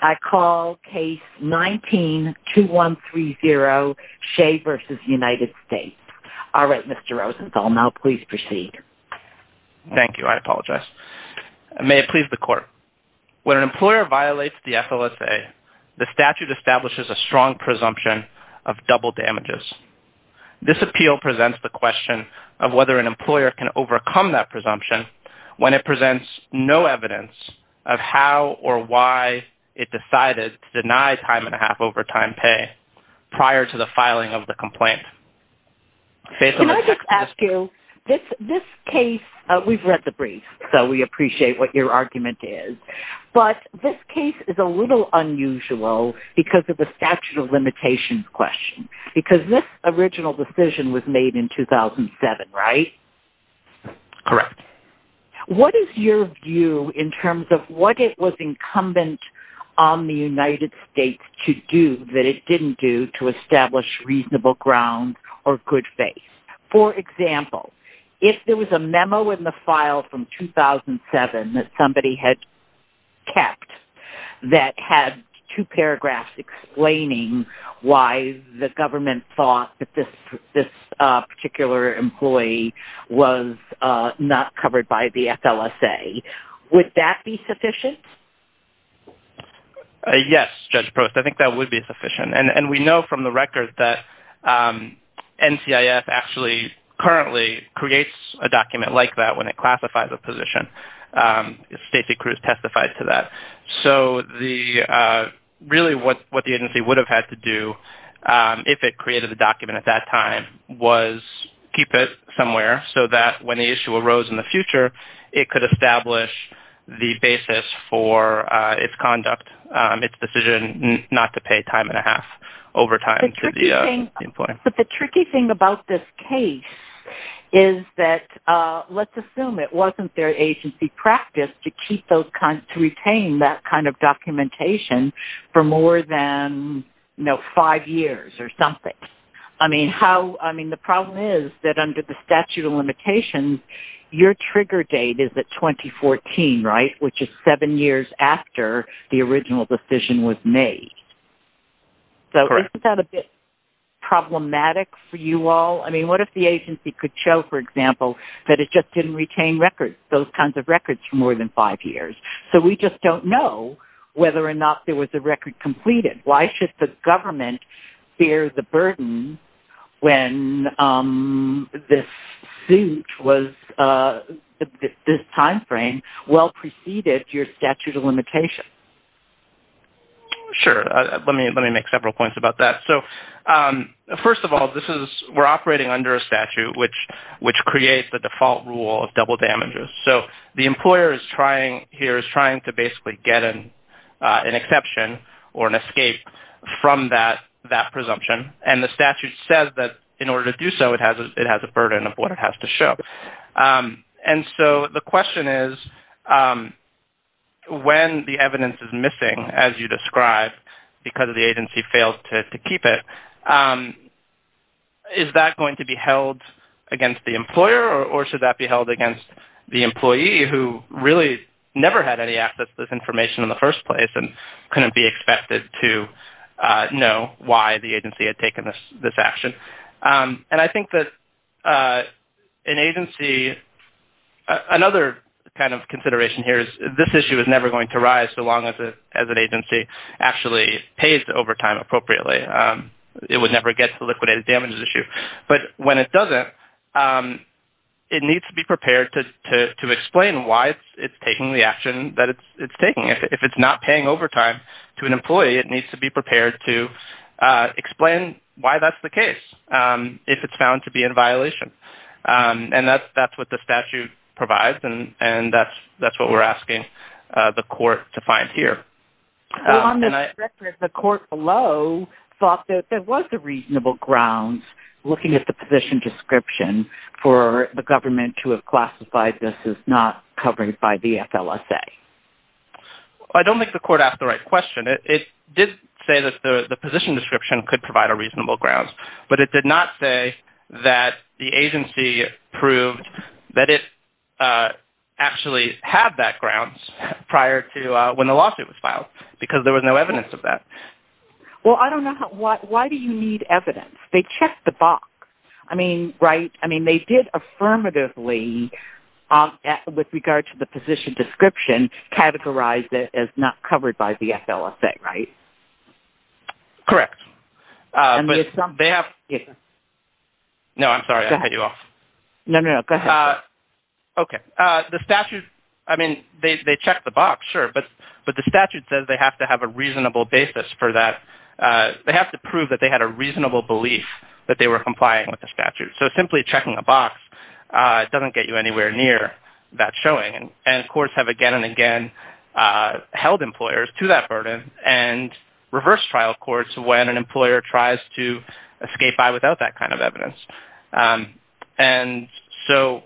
I call case 19-2130, Shea v. United States. All right, Mr. Rosenthal, now please proceed. Thank you. I apologize. May it please the Court. When an employer violates the FLSA, the statute establishes a strong presumption of double damages. This appeal presents the question of whether an employer can overcome that presumption when it presents no evidence of how or why it decided to deny time-and-a-half overtime pay prior to the filing of the complaint. Can I just ask you, this case, we've read the brief, so we appreciate what your argument is, but this case is a little unusual because of the statute of limitations question, because this original decision was made in 2007, right? Correct. What is your view in terms of what it was incumbent on the United States to do that it didn't do to establish reasonable ground or good faith? For example, if there was a memo in the file from 2007 that somebody had kept that had two paragraphs explaining why the government thought that this particular employee was not covered by the FLSA, would that be sufficient? Yes, Judge Prost, I think that would be sufficient. And we know from the record that NCIF actually currently creates a document like that when it classifies a position. Stacy Cruz testified to that. So really what the agency would have had to do if it created the document at that time was keep it somewhere so that when the issue arose in the future, it could establish the basis for its conduct, its decision not to pay time-and-a-half overtime to the employee. But the tricky thing about this case is that, let's assume it wasn't their agency practice to retain that kind of documentation for more than five years or something. The problem is that under the statute of limitations, your trigger date is at 2014, right? Which is seven years after the original decision was made. So isn't that a bit problematic for you all? What if the agency could show, for example, that it just didn't retain those kinds of records for more than five years? So we just don't know whether or not there was a record completed. Why should the government bear the burden when this time frame well preceded your statute of limitations? Sure. Let me make several points about that. So first of all, we're operating under a statute which creates the default rule of double damages. So the employer here is trying to basically get an exception or an escape from that presumption. And the statute says that in order to do so, it has a burden of what it has to show. And so the question is, when the evidence is missing, as you described, because the agency failed to keep it, is that going to be held against the employer or should that be held against the employee who really never had any access to this information in the first place and couldn't be expected to know why the agency had taken this action? And I think that another kind of consideration here is this issue is never going to rise so long as an agency actually pays the overtime appropriately. It would never get to the liquidated damages issue. But when it doesn't, it needs to be prepared to explain why it's taking the action that it's taking. If it's not paying overtime to an employee, it needs to be prepared to explain why that's the case if it's found to be in violation. And that's what the statute provides, and that's what we're asking the court to find here. The court below thought that there was a reasonable grounds looking at the position description for the government to have classified this as not covered by the FLSA. I don't think the court asked the right question. It did say that the position description could provide a reasonable grounds, but it did not say that the agency proved that it actually had that grounds prior to when the lawsuit was filed because there was no evidence of that. Well, I don't know. Why do you need evidence? They checked the box. I mean, they did affirmatively, with regard to the position description, categorize it as not covered by the FLSA, right? Correct. No, I'm sorry. I cut you off. No, no. Go ahead. Okay. The statute, I mean, they checked the box, sure, but the statute says they have to have a reasonable basis for that. They have to prove that they had a reasonable belief that they were complying with the statute. So simply checking a box doesn't get you anywhere near that showing. And courts have again and again held employers to that burden and reversed trial courts when an employer tries to escape by without that kind of evidence. And so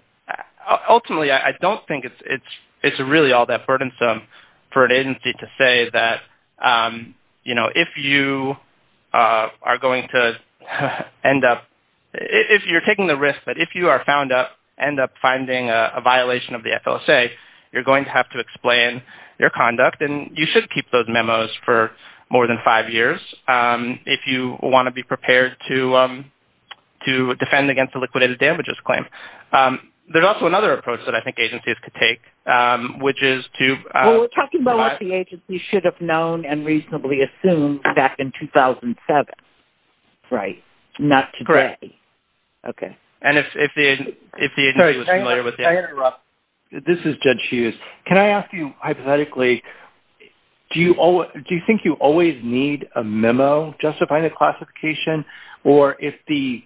ultimately I don't think it's really all that burdensome for an agency to say that, you know, if you are going to end up, if you're taking the risk that if you are found up, end up finding a violation of the FLSA, you're going to have to explain your conduct, and you should keep those memos for more than five years if you want to be prepared to defend against a liquidated damages claim. There's also another approach that I think agencies could take, which is to... Well, we're talking about what the agency should have known and reasonably assumed back in 2007, right? Correct. Not today. Okay. And if the agency was familiar with... Sorry, can I interrupt? This is Judge Hughes. Can I ask you hypothetically, do you think you always need a memo justifying the classification? Or if the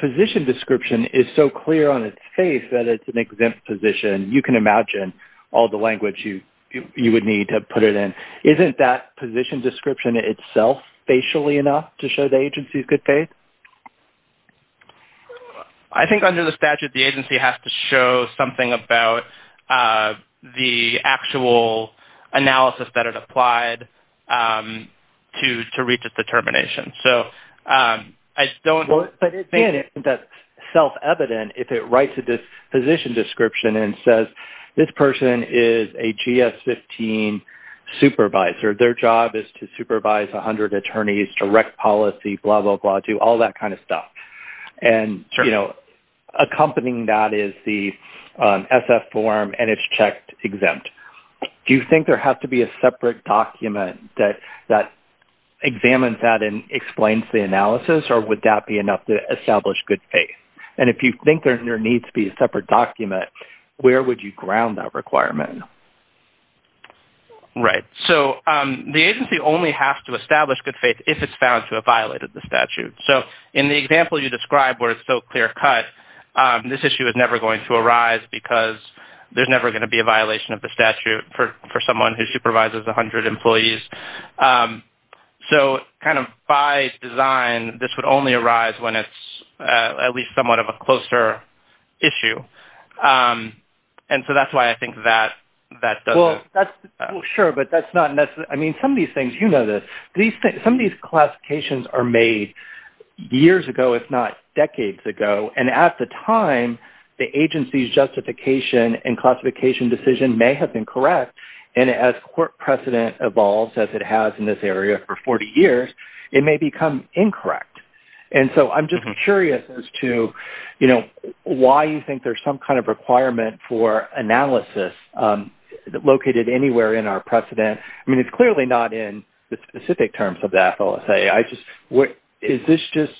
position description is so clear on its face that it's an exempt position, you can imagine all the language you would need to put it in. Isn't that position description itself facially enough to show the agency's good faith? I think under the statute, the agency has to show something about the actual analysis that it applied to reach its determination. So I don't... But again, it's self-evident if it writes a position description and says, this person is a GS-15 supervisor. Their job is to supervise 100 attorneys, direct policy, blah, blah, blah, do all that kind of stuff. And accompanying that is the SF form, and it's checked exempt. Do you think there has to be a separate document that examines that and explains the analysis, or would that be enough to establish good faith? And if you think there needs to be a separate document, where would you ground that requirement? Right. So the agency only has to establish good faith if it's found to have violated the statute. So in the example you described where it's so clear cut, this issue is never going to arise because there's never going to be a violation of the statute for someone who supervises 100 employees. So kind of by design, this would only arise when it's at least somewhat of a closer issue. And so that's why I think that... Sure, but that's not necessarily... I mean, some of these things, you know this, some of these classifications are made years ago, if not decades ago. And at the time, the agency's justification and classification decision may have been correct, and as court precedent evolves, as it has in this area for 40 years, it may become incorrect. Why do you think there's some kind of requirement for analysis located anywhere in our precedent? I mean, it's clearly not in the specific terms of the FLSA. I just... Is this just,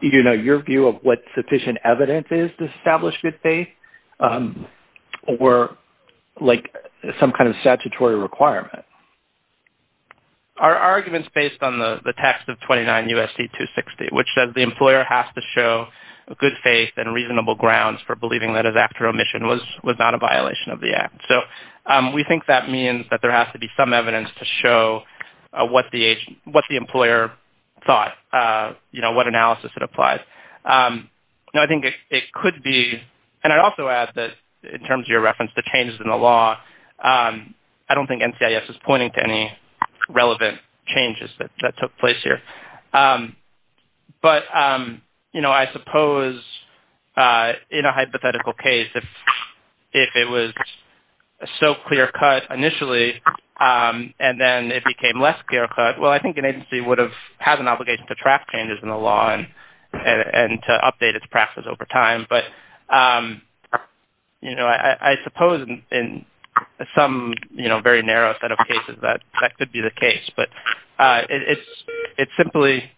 you know, your view of what sufficient evidence is to establish good faith? Or like some kind of statutory requirement? Our argument's based on the text of 29 U.S.C. 260, which says the employer has to show good faith and reasonable grounds for believing that his act of remission was not a violation of the act. So we think that means that there has to be some evidence to show what the employer thought, you know, what analysis had applied. Now, I think it could be... And I'd also add that, in terms of your reference to changes in the law, I don't think NCIS is pointing to any relevant changes that took place here. But, you know, I suppose in a hypothetical case, if it was so clear-cut initially and then it became less clear-cut, well, I think an agency would have had an obligation to track changes in the law and to update its practices over time. But, you know, I suppose in some, you know, very narrow set of cases, that could be the case. But it's simply...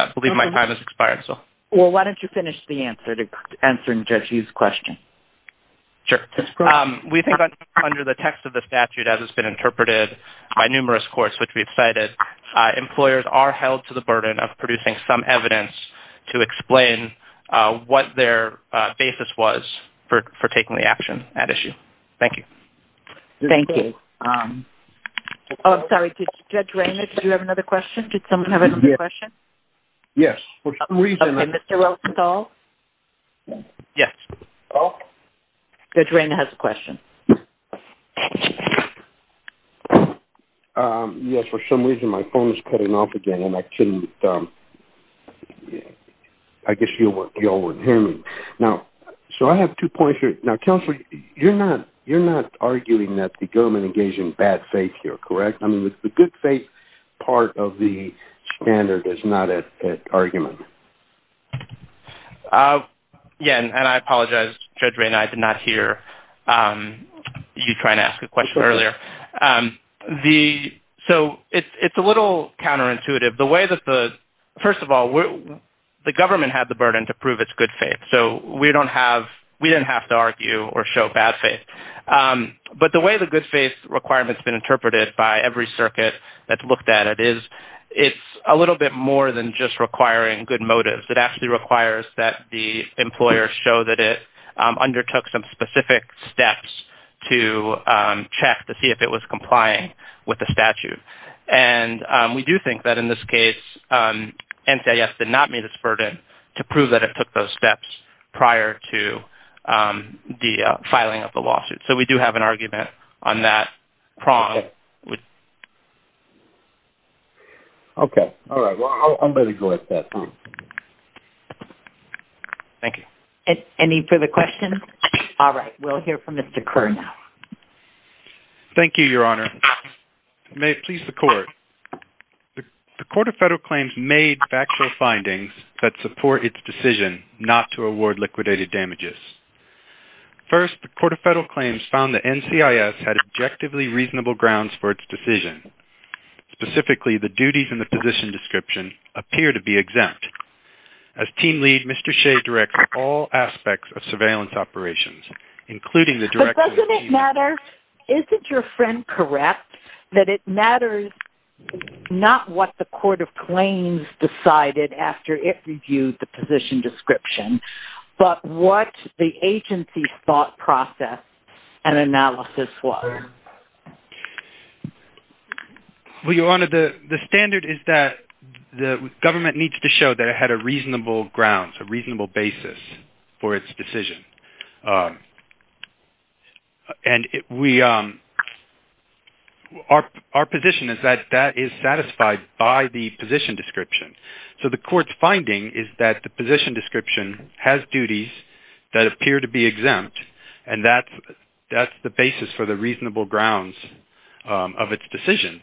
I believe my time has expired, so... Well, why don't you finish the answer to answering Judge Yu's question? Sure. We think that under the text of the statute, as has been interpreted by numerous courts which we've cited, employers are held to the burden of producing some evidence to explain what their basis was for taking the action at issue. Thank you. Thank you. Oh, I'm sorry. Judge Rayner, did you have another question? Did someone have another question? Yes, for some reason... OK, Mr. Wilson-Stahl? Yes. Judge Rayner has a question. Yes, for some reason my phone is cutting off again and I couldn't... I guess you all wouldn't hear me. Now, so I have two points here. Now, counsel, you're not arguing that the government engages in bad faith here, correct? I mean, the good faith part of the standard is not at argument. Yes, and I apologize, Judge Rayner, I did not hear you try and ask a question earlier. So it's a little counterintuitive. The way that the... First of all, the government had the burden to prove its good faith, so we don't have... We didn't have to argue or show bad faith. But the way the good faith requirement's been interpreted by every circuit that's looked at it is it's a little bit more than just requiring good motives. It actually requires that the employer show that it undertook some specific steps to check to see if it was complying with the statute. And we do think that in this case, NCIS did not meet its burden to prove that it took those steps prior to the filing of the lawsuit. So we do have an argument on that prong. Okay, all right. Well, I'm ready to go at that point. Thank you. Any further questions? All right, we'll hear from Mr. Kerr now. Thank you, Your Honor. May it please the Court. The Court of Federal Claims made factual findings that support its decision not to award liquidated damages. First, the Court of Federal Claims found that NCIS had objectively reasonable grounds for its decision. Specifically, the duties in the position description appear to be exempt. As team lead, Mr. Shea directs all aspects of surveillance operations, including the direct... But doesn't it matter? First, isn't your friend correct that it matters not what the Court of Claims decided after it reviewed the position description, but what the agency's thought process and analysis was? Well, Your Honor, the standard is that the government needs to show that it had a reasonable grounds, a reasonable basis for its decision. And we... Our position is that that is satisfied by the position description. So the Court's finding is that the position description has duties that appear to be exempt, and that's the basis for the reasonable grounds of its decision.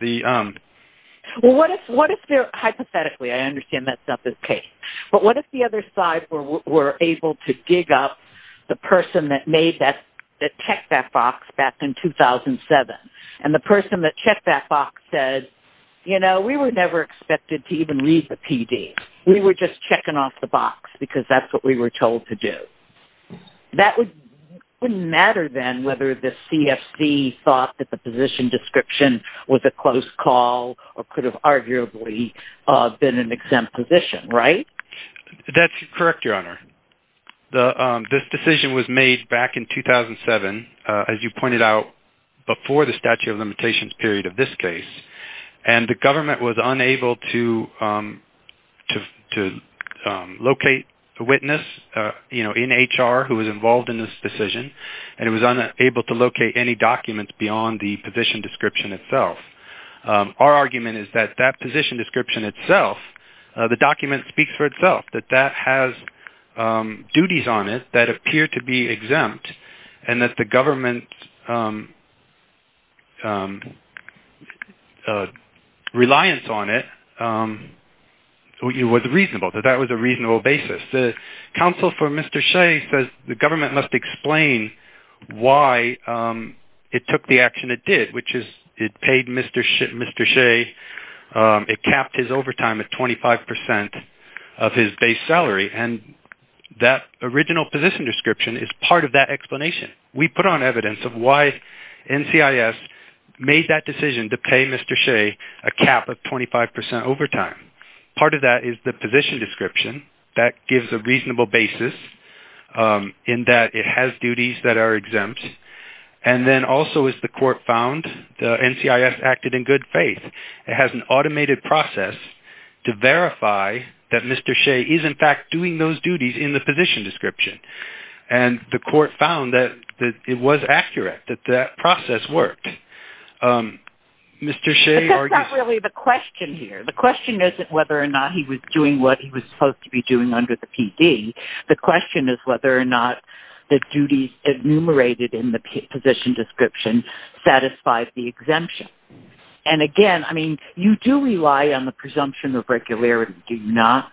Well, what if there... Hypothetically, I understand that stuff is case. But what if the other side were able to dig up the person that made that... that checked that box back in 2007, and the person that checked that box said, you know, we were never expected to even read the PD. We were just checking off the box because that's what we were told to do. That would... It wouldn't matter then whether the CFC thought that the position description was a close call or could have arguably been an exempt position, right? That's correct, Your Honor. This decision was made back in 2007, as you pointed out, before the statute of limitations period of this case. And the government was unable to... to locate a witness, you know, in HR who was involved in this decision, and it was unable to locate any documents beyond the position description itself. Our argument is that that position description itself, the document speaks for itself, that that has duties on it that appear to be exempt, and that the government's reliance on it was reasonable, that that was a reasonable basis. The counsel for Mr. Shea says the government must explain why it took the action it did, which is it paid Mr. Shea... it capped his overtime at 25% of his base salary, and that original position description is part of that explanation. We put on evidence of why NCIS made that decision to pay Mr. Shea a cap of 25% overtime. Part of that is the position description that gives a reasonable basis in that it has duties that are exempt, and then also, as the court found, NCIS acted in good faith. It has an automated process to verify that Mr. Shea is, in fact, doing those duties in the position description. And the court found that it was accurate, that that process worked. Mr. Shea argued... But that's not really the question here. The question isn't whether or not he was doing what he was supposed to be doing under the PD. The question is whether or not the duties enumerated in the position description satisfied the exemption. And again, I mean, you do rely on the presumption of regularity, do you not?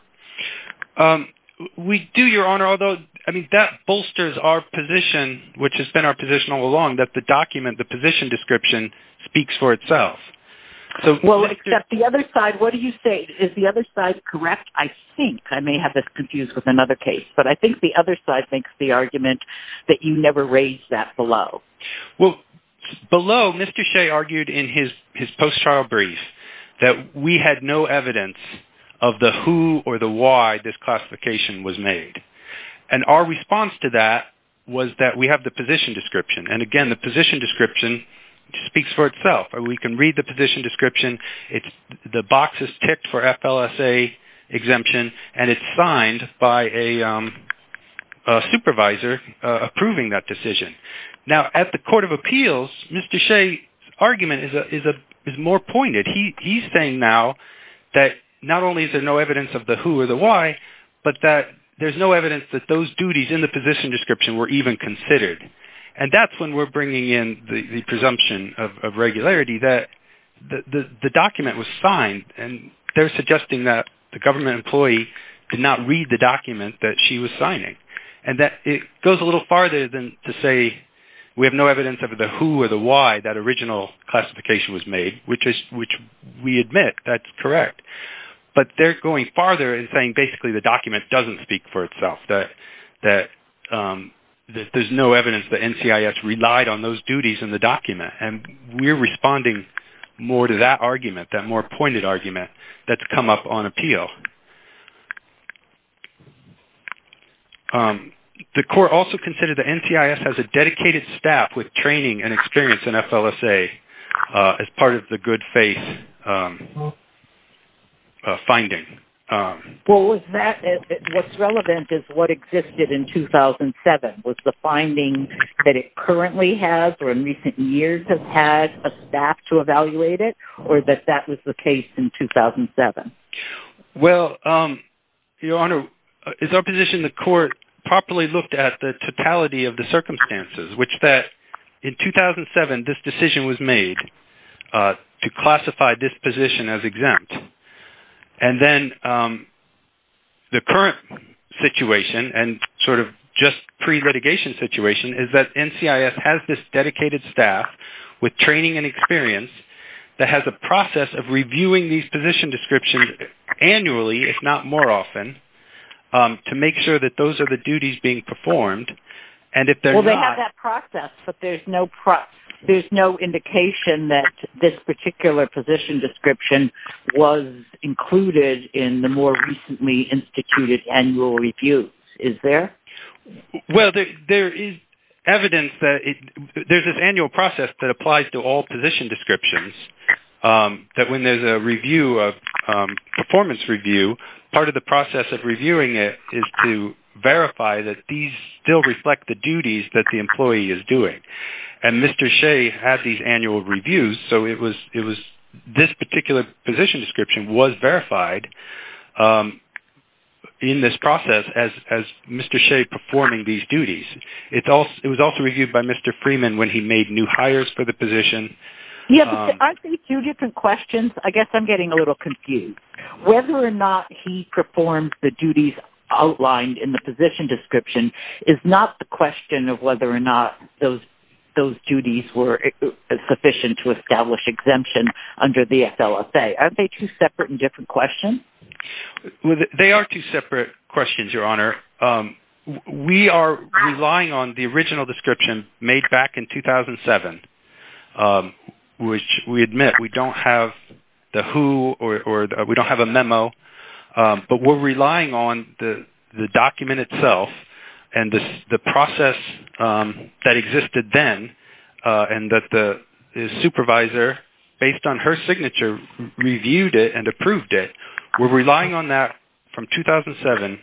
We do, Your Honor, although, I mean, that bolsters our position, which has been our position all along, that the document, the position description, speaks for itself. Well, except the other side, what do you say? Is the other side correct? I think, I may have this confused with another case, but I think the other side makes the argument that you never raised that below. Well, below, Mr. Shea argued in his post-trial brief that we had no evidence of the who or the why this classification was made. And our response to that was that we have the position description. And again, the position description speaks for itself. We can read the position description. The box is ticked for FLSA exemption, and it's signed by a supervisor approving that decision. Now, at the court of appeals, Mr. Shea's argument is more pointed. He's saying now that not only is there no evidence of the who or the why, but that there's no evidence that those duties in the position description were even considered. And that's when we're bringing in the presumption of regularity that the document was signed, and they're suggesting that the government employee did not read the document that she was signing, and that it goes a little farther than to say we have no evidence of the who or the why that original classification was made, which we admit that's correct. But they're going farther in saying basically the document doesn't speak for itself, that there's no evidence that NCIS relied on those duties in the document. And we're responding more to that argument, that more pointed argument that's come up on appeal. The court also considered that NCIS has a dedicated staff with training and experience in FLSA as part of the good faith finding. Well, what's relevant is what existed in 2007. Was the finding that it currently has or in recent years has had a staff to evaluate it, or that that was the case in 2007? Well, Your Honor, it's our position the court properly looked at the totality of the circumstances, which that in 2007 this decision was made to classify this position as exempt. And then the current situation and sort of just pre-litigation situation is that NCIS has this dedicated staff with training and experience that has a process of reviewing these position descriptions annually, if not more often, to make sure that those are the duties being performed. Well, they have that process, but there's no indication that this particular position description was included in the more recently instituted annual review. Is there? Well, there is evidence that there's this annual process that applies to all position descriptions, that when there's a review, a performance review, part of the process of reviewing it is to verify that these still reflect the duties that the employee is doing. And Mr. Shea had these annual reviews, so it was this particular position description was verified in this process as Mr. Shea performing these duties. It was also reviewed by Mr. Freeman when he made new hires for the position. Yeah, but I think two different questions, I guess I'm getting a little confused. Whether or not he performed the duties outlined in the position description is not the question of whether or not those duties were sufficient to establish exemption under the SLSA. Aren't they two separate and different questions? They are two separate questions, Your Honor. We are relying on the original description made back in 2007, which we admit we don't have the who or we don't have a memo, but we're relying on the document itself and the process that existed then and that the supervisor, based on her signature, reviewed it and approved it. We're relying on that from 2007,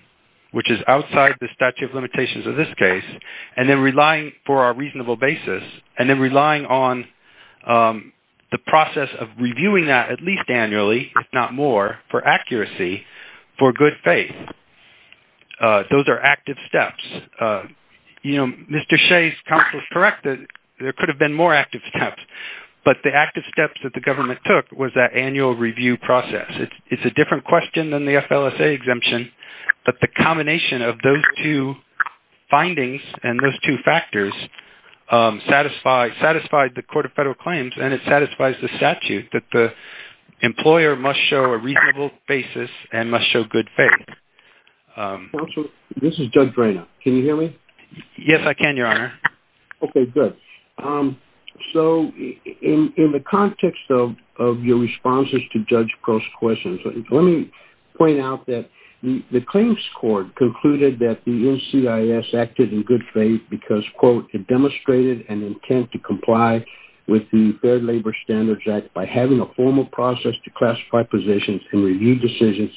which is outside the statute of limitations of this case, and then relying on the process of reviewing that at least annually, if not more, for accuracy, for good faith. Those are active steps. Mr. Shea's counsel is correct that there could have been more active steps, but the active steps that the government took was that annual review process. It's a different question than the SLSA exemption, but the combination of those two findings and those two factors satisfied the Court of Federal Claims and it satisfies the statute that the employer must show a reasonable basis and must show good faith. Counsel, this is Judge Reina. Can you hear me? Yes, I can, Your Honor. Okay, good. So, in the context of your responses to Judge Crow's questions, let me point out that the Claims Court concluded that the NCIS acted in good faith because, quote, it demonstrated an intent to comply with the Fair Labor Standards Act by having a formal process to classify positions and review decisions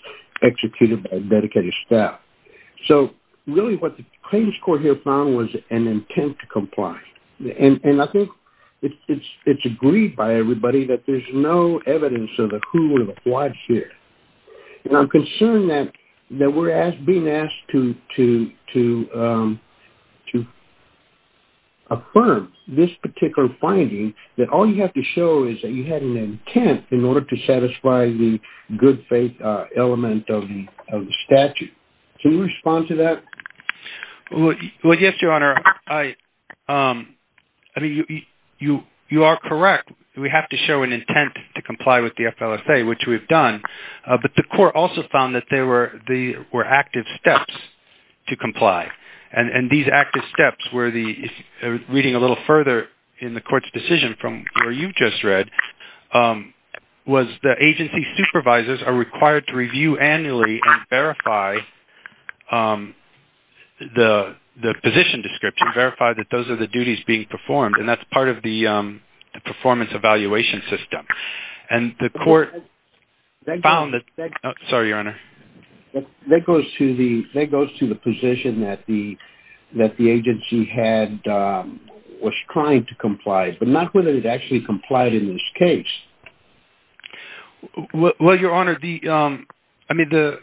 executed by dedicated staff. So, really what the Claims Court here found was an intent to comply, and I think it's agreed by everybody that there's no evidence of the who or the what here. And I'm concerned that we're being asked to affirm this particular finding that all you have to show is that you had an intent in order to satisfy the good faith element of the statute. Can you respond to that? Well, yes, Your Honor. I mean, you are correct. We have to show an intent to comply with the FLSA, which we've done. But the Court also found that there were active steps to comply. And these active steps were the, reading a little further in the Court's decision from where you just read, was the agency supervisors are required to review annually and verify the position description, verify that those are the duties being performed, and that's part of the performance evaluation system. And the Court found that- Sorry, Your Honor. That goes to the position that the agency was trying to comply, but not whether it actually complied in this case. Well, Your Honor, I mean, the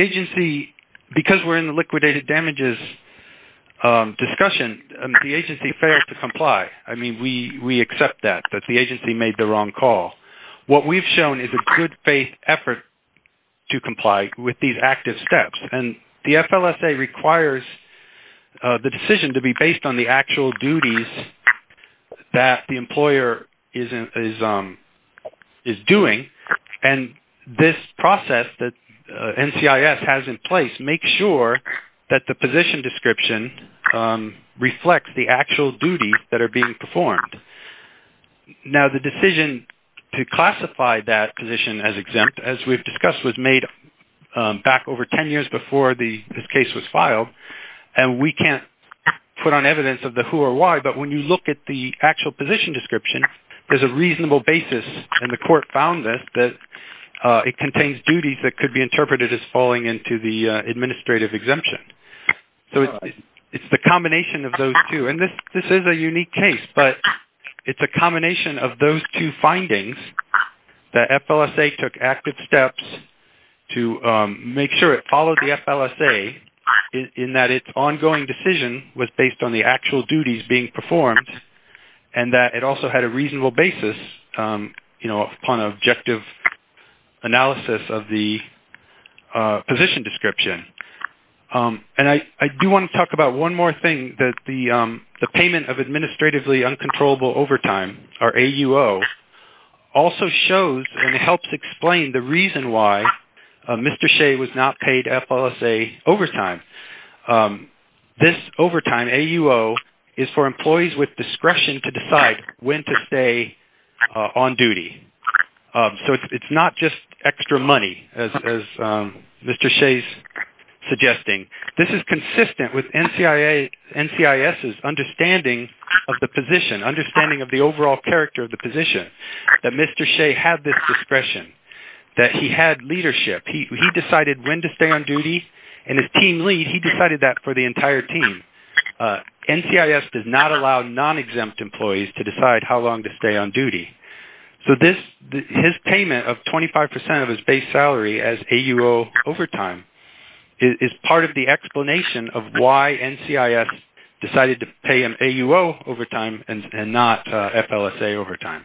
agency, because we're in the liquidated damages discussion, the agency failed to comply. I mean, we accept that, that the agency made the wrong call. What we've shown is a good faith effort to comply with these active steps. And the FLSA requires the decision to be based on the actual duties that the employer is doing. And this process that NCIS has in place makes sure that the position description reflects the actual duties that are being performed. Now, the decision to classify that position as exempt, as we've discussed, was made back over 10 years before this case was filed. And we can't put on evidence of the who or why, but when you look at the actual position description, there's a reasonable basis, and the Court found this, that it contains duties that could be interpreted as falling into the administrative exemption. So it's the combination of those two. And this is a unique case, but it's a combination of those two findings, that FLSA took active steps to make sure it followed the FLSA, in that its ongoing decision was based on the actual duties being performed, and that it also had a reasonable basis, you know, upon objective analysis of the position description. And I do want to talk about one more thing, that the payment of administratively uncontrollable overtime, or AUO, also shows and helps explain the reason why Mr. Shea was not paid FLSA overtime. This overtime, AUO, is for employees with discretion to decide when to stay on duty. So it's not just extra money, as Mr. Shea's suggesting. This is consistent with NCIS's understanding of the position, understanding of the overall character of the position, that Mr. Shea had this discretion, that he had leadership. He decided when to stay on duty, and his team lead, he decided that for the entire team. NCIS does not allow non-exempt employees to decide how long to stay on duty. So his payment of 25% of his base salary as AUO overtime, is part of the explanation of why NCIS decided to pay him AUO overtime, and not FLSA overtime.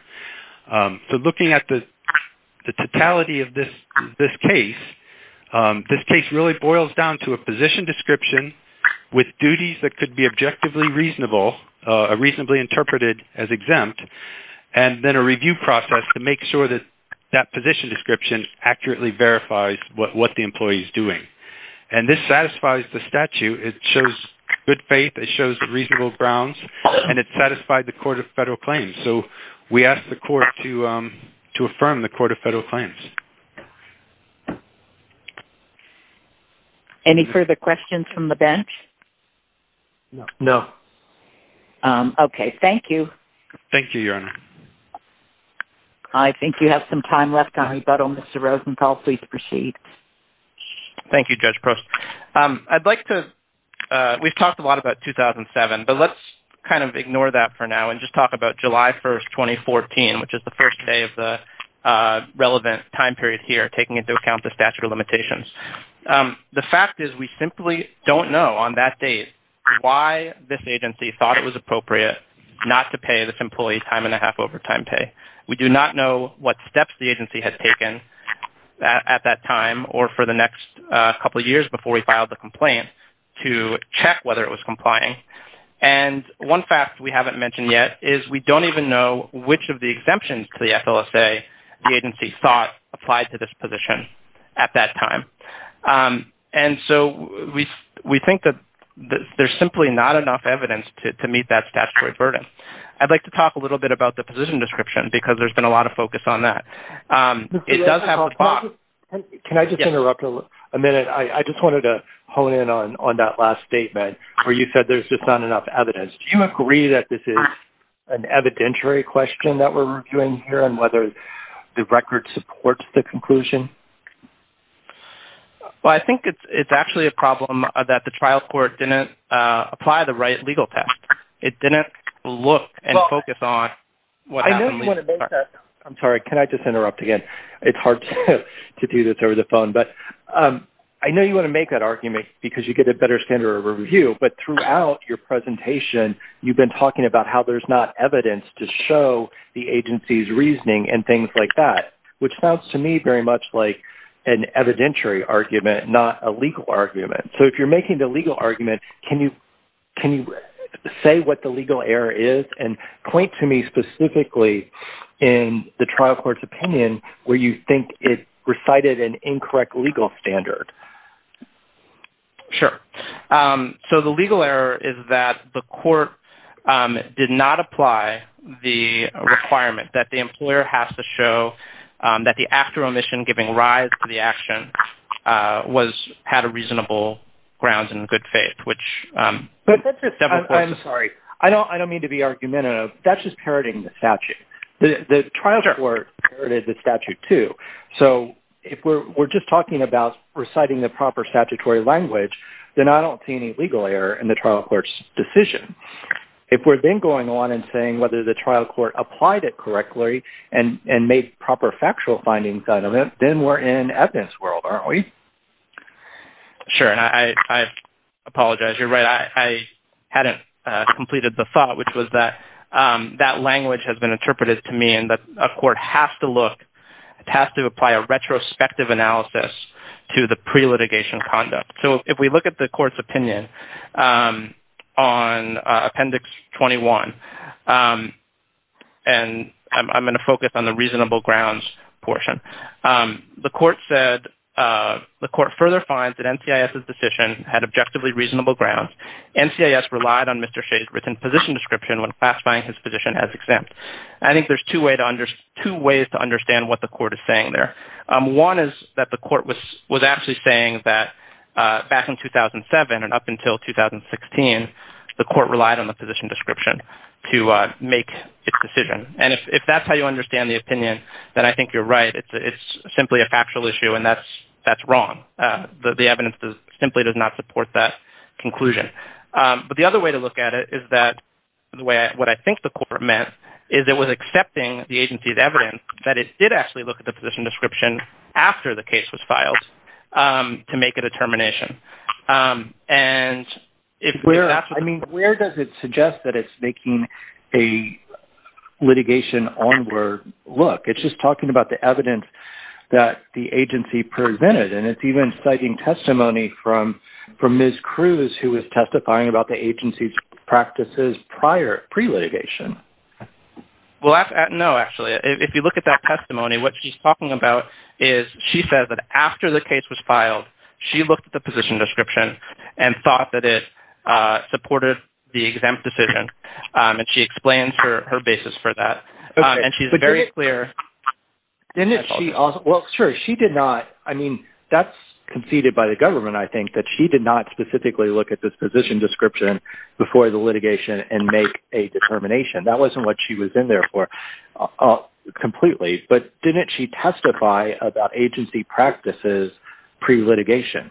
So looking at the totality of this case, this case really boils down to a position description, with duties that could be objectively reasonable, reasonably interpreted as exempt, and then a review process to make sure that that position description accurately verifies what the employee is doing. And this satisfies the statute, it shows good faith, it shows reasonable grounds, and it satisfied the Court of Federal Claims. So we ask the Court to affirm the Court of Federal Claims. Any further questions from the bench? No. Okay, thank you. Thank you, Your Honor. I think you have some time left on rebuttal. Mr. Rosenthal, please proceed. Thank you, Judge Prost. I'd like to, we've talked a lot about 2007, but let's kind of ignore that for now and just talk about July 1st, 2014, which is the first day of the relevant time period here, taking into account the statute of limitations. The fact is we simply don't know on that date why this agency thought it was appropriate not to pay this employee time-and-a-half overtime pay. We do not know what steps the agency had taken at that time or for the next couple of years before we filed the complaint to check whether it was complying. And one fact we haven't mentioned yet is we don't even know which of the exemptions to the FLSA the agency thought applied to this position at that time. And so we think that there's simply not enough evidence to meet that statutory burden. I'd like to talk a little bit about the position description because there's been a lot of focus on that. It does have a clause. Can I just interrupt a minute? I just wanted to hone in on that last statement where you said there's just not enough evidence. Do you agree that this is an evidentiary question that we're reviewing here and whether the record supports the conclusion? Well, I think it's actually a problem that the trial court didn't apply the right legal test. It didn't look and focus on what happened. I'm sorry. Can I just interrupt again? It's hard to do this over the phone, but I know you want to make that argument because you get a better standard of review. But throughout your presentation, you've been talking about how there's not evidence to show the agency's reasoning and things like that, which sounds to me very much like an evidentiary argument, not a legal argument. So if you're making the legal argument, can you say what the legal error is and point to me specifically in the trial court's opinion where you think it recited an incorrect legal standard? Sure. So the legal error is that the court did not apply the requirement that the employer has to show that the after-omission giving rise to the action had a reasonable grounds and good faith. I'm sorry. I don't mean to be argumentative. That's just parroting the statute. The trial court parroted the statute, too. So if we're just talking about reciting the proper statutory language, then I don't see any legal error in the trial court's decision. If we're then going on and saying whether the trial court applied it correctly and made proper factual findings out of it, then we're in evidence world, aren't we? Sure. And I apologize. You're right. I hadn't completed the thought, which was that that language has been interpreted to me that a court has to look, has to apply a retrospective analysis to the pre-litigation conduct. So if we look at the court's opinion on Appendix 21, and I'm going to focus on the reasonable grounds portion, the court further finds that NCIS's decision had objectively reasonable grounds. NCIS relied on Mr. Shea's written position description when classifying his position as exempt. I think there's two ways to understand what the court is saying there. One is that the court was actually saying that back in 2007 and up until 2016, the court relied on the position description to make its decision. And if that's how you understand the opinion, then I think you're right. It's simply a factual issue, and that's wrong. The evidence simply does not support that conclusion. But the other way to look at it is that what I think the court meant is it was accepting the agency's evidence that it did actually look at the position description after the case was filed to make a determination. Where does it suggest that it's making a litigation onward look? It's just talking about the evidence that the agency presented, and it's even citing testimony from Ms. Cruz, who was testifying about the agency's practices prior, pre-litigation. Well, no, actually. If you look at that testimony, what she's talking about is she says that after the case was filed, she looked at the position description and thought that it supported the exempt decision, and she explains her basis for that. And she's very clear. Well, sure, she did not. I mean, that's conceded by the government, I think, that she did not specifically look at this position description before the litigation and make a determination. That wasn't what she was in there for completely. But didn't she testify about agency practices pre-litigation?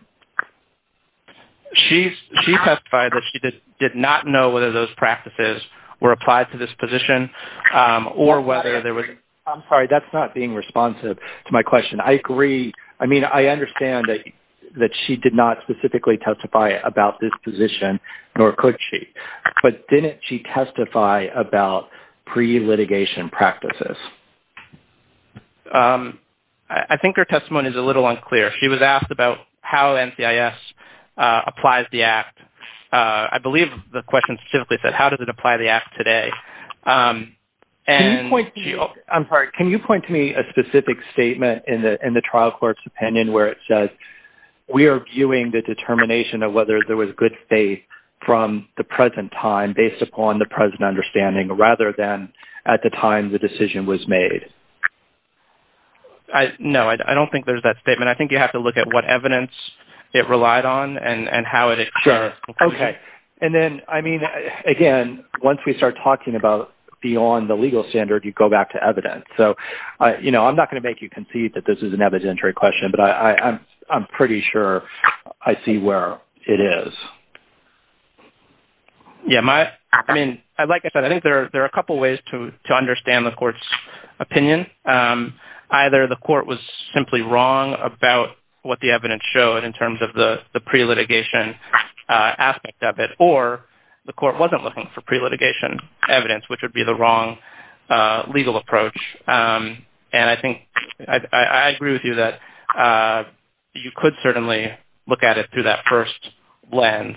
She testified that she did not know whether those practices were applied to this position or whether there was... I'm sorry, that's not being responsive to my question. I mean, I understand that she did not specifically testify about this position, nor could she, but didn't she testify about pre-litigation practices? I think her testimony is a little unclear. She was asked about how NCIS applies the Act. I believe the question specifically said, how does it apply the Act today? I'm sorry, can you point to me a specific statement in the trial court's opinion where it says, we are viewing the determination of whether there was good faith from the present time based upon the present understanding rather than at the time the decision was made? No, I don't think there's that statement. I think you have to look at what evidence it relied on and how it... Okay, and then, I mean, again, once we start talking about beyond the legal standard, you go back to evidence. So, you know, I'm not going to make you concede that this is an evidentiary question, but I'm pretty sure I see where it is. Yeah, I mean, like I said, I think there are a couple of ways to understand the court's opinion. Either the court was simply wrong about what the evidence showed in terms of the pre-litigation aspect of it, or the court wasn't looking for pre-litigation evidence, which would be the wrong legal approach. And I think... I agree with you that you could certainly look at it through that first lens,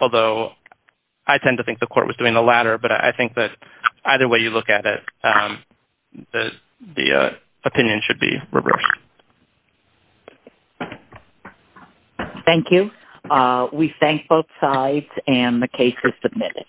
although I tend to think the court was doing the latter, but I think that either way you look at it, the opinion should be reversed. Thank you. We thank both sides, and the case is submitted.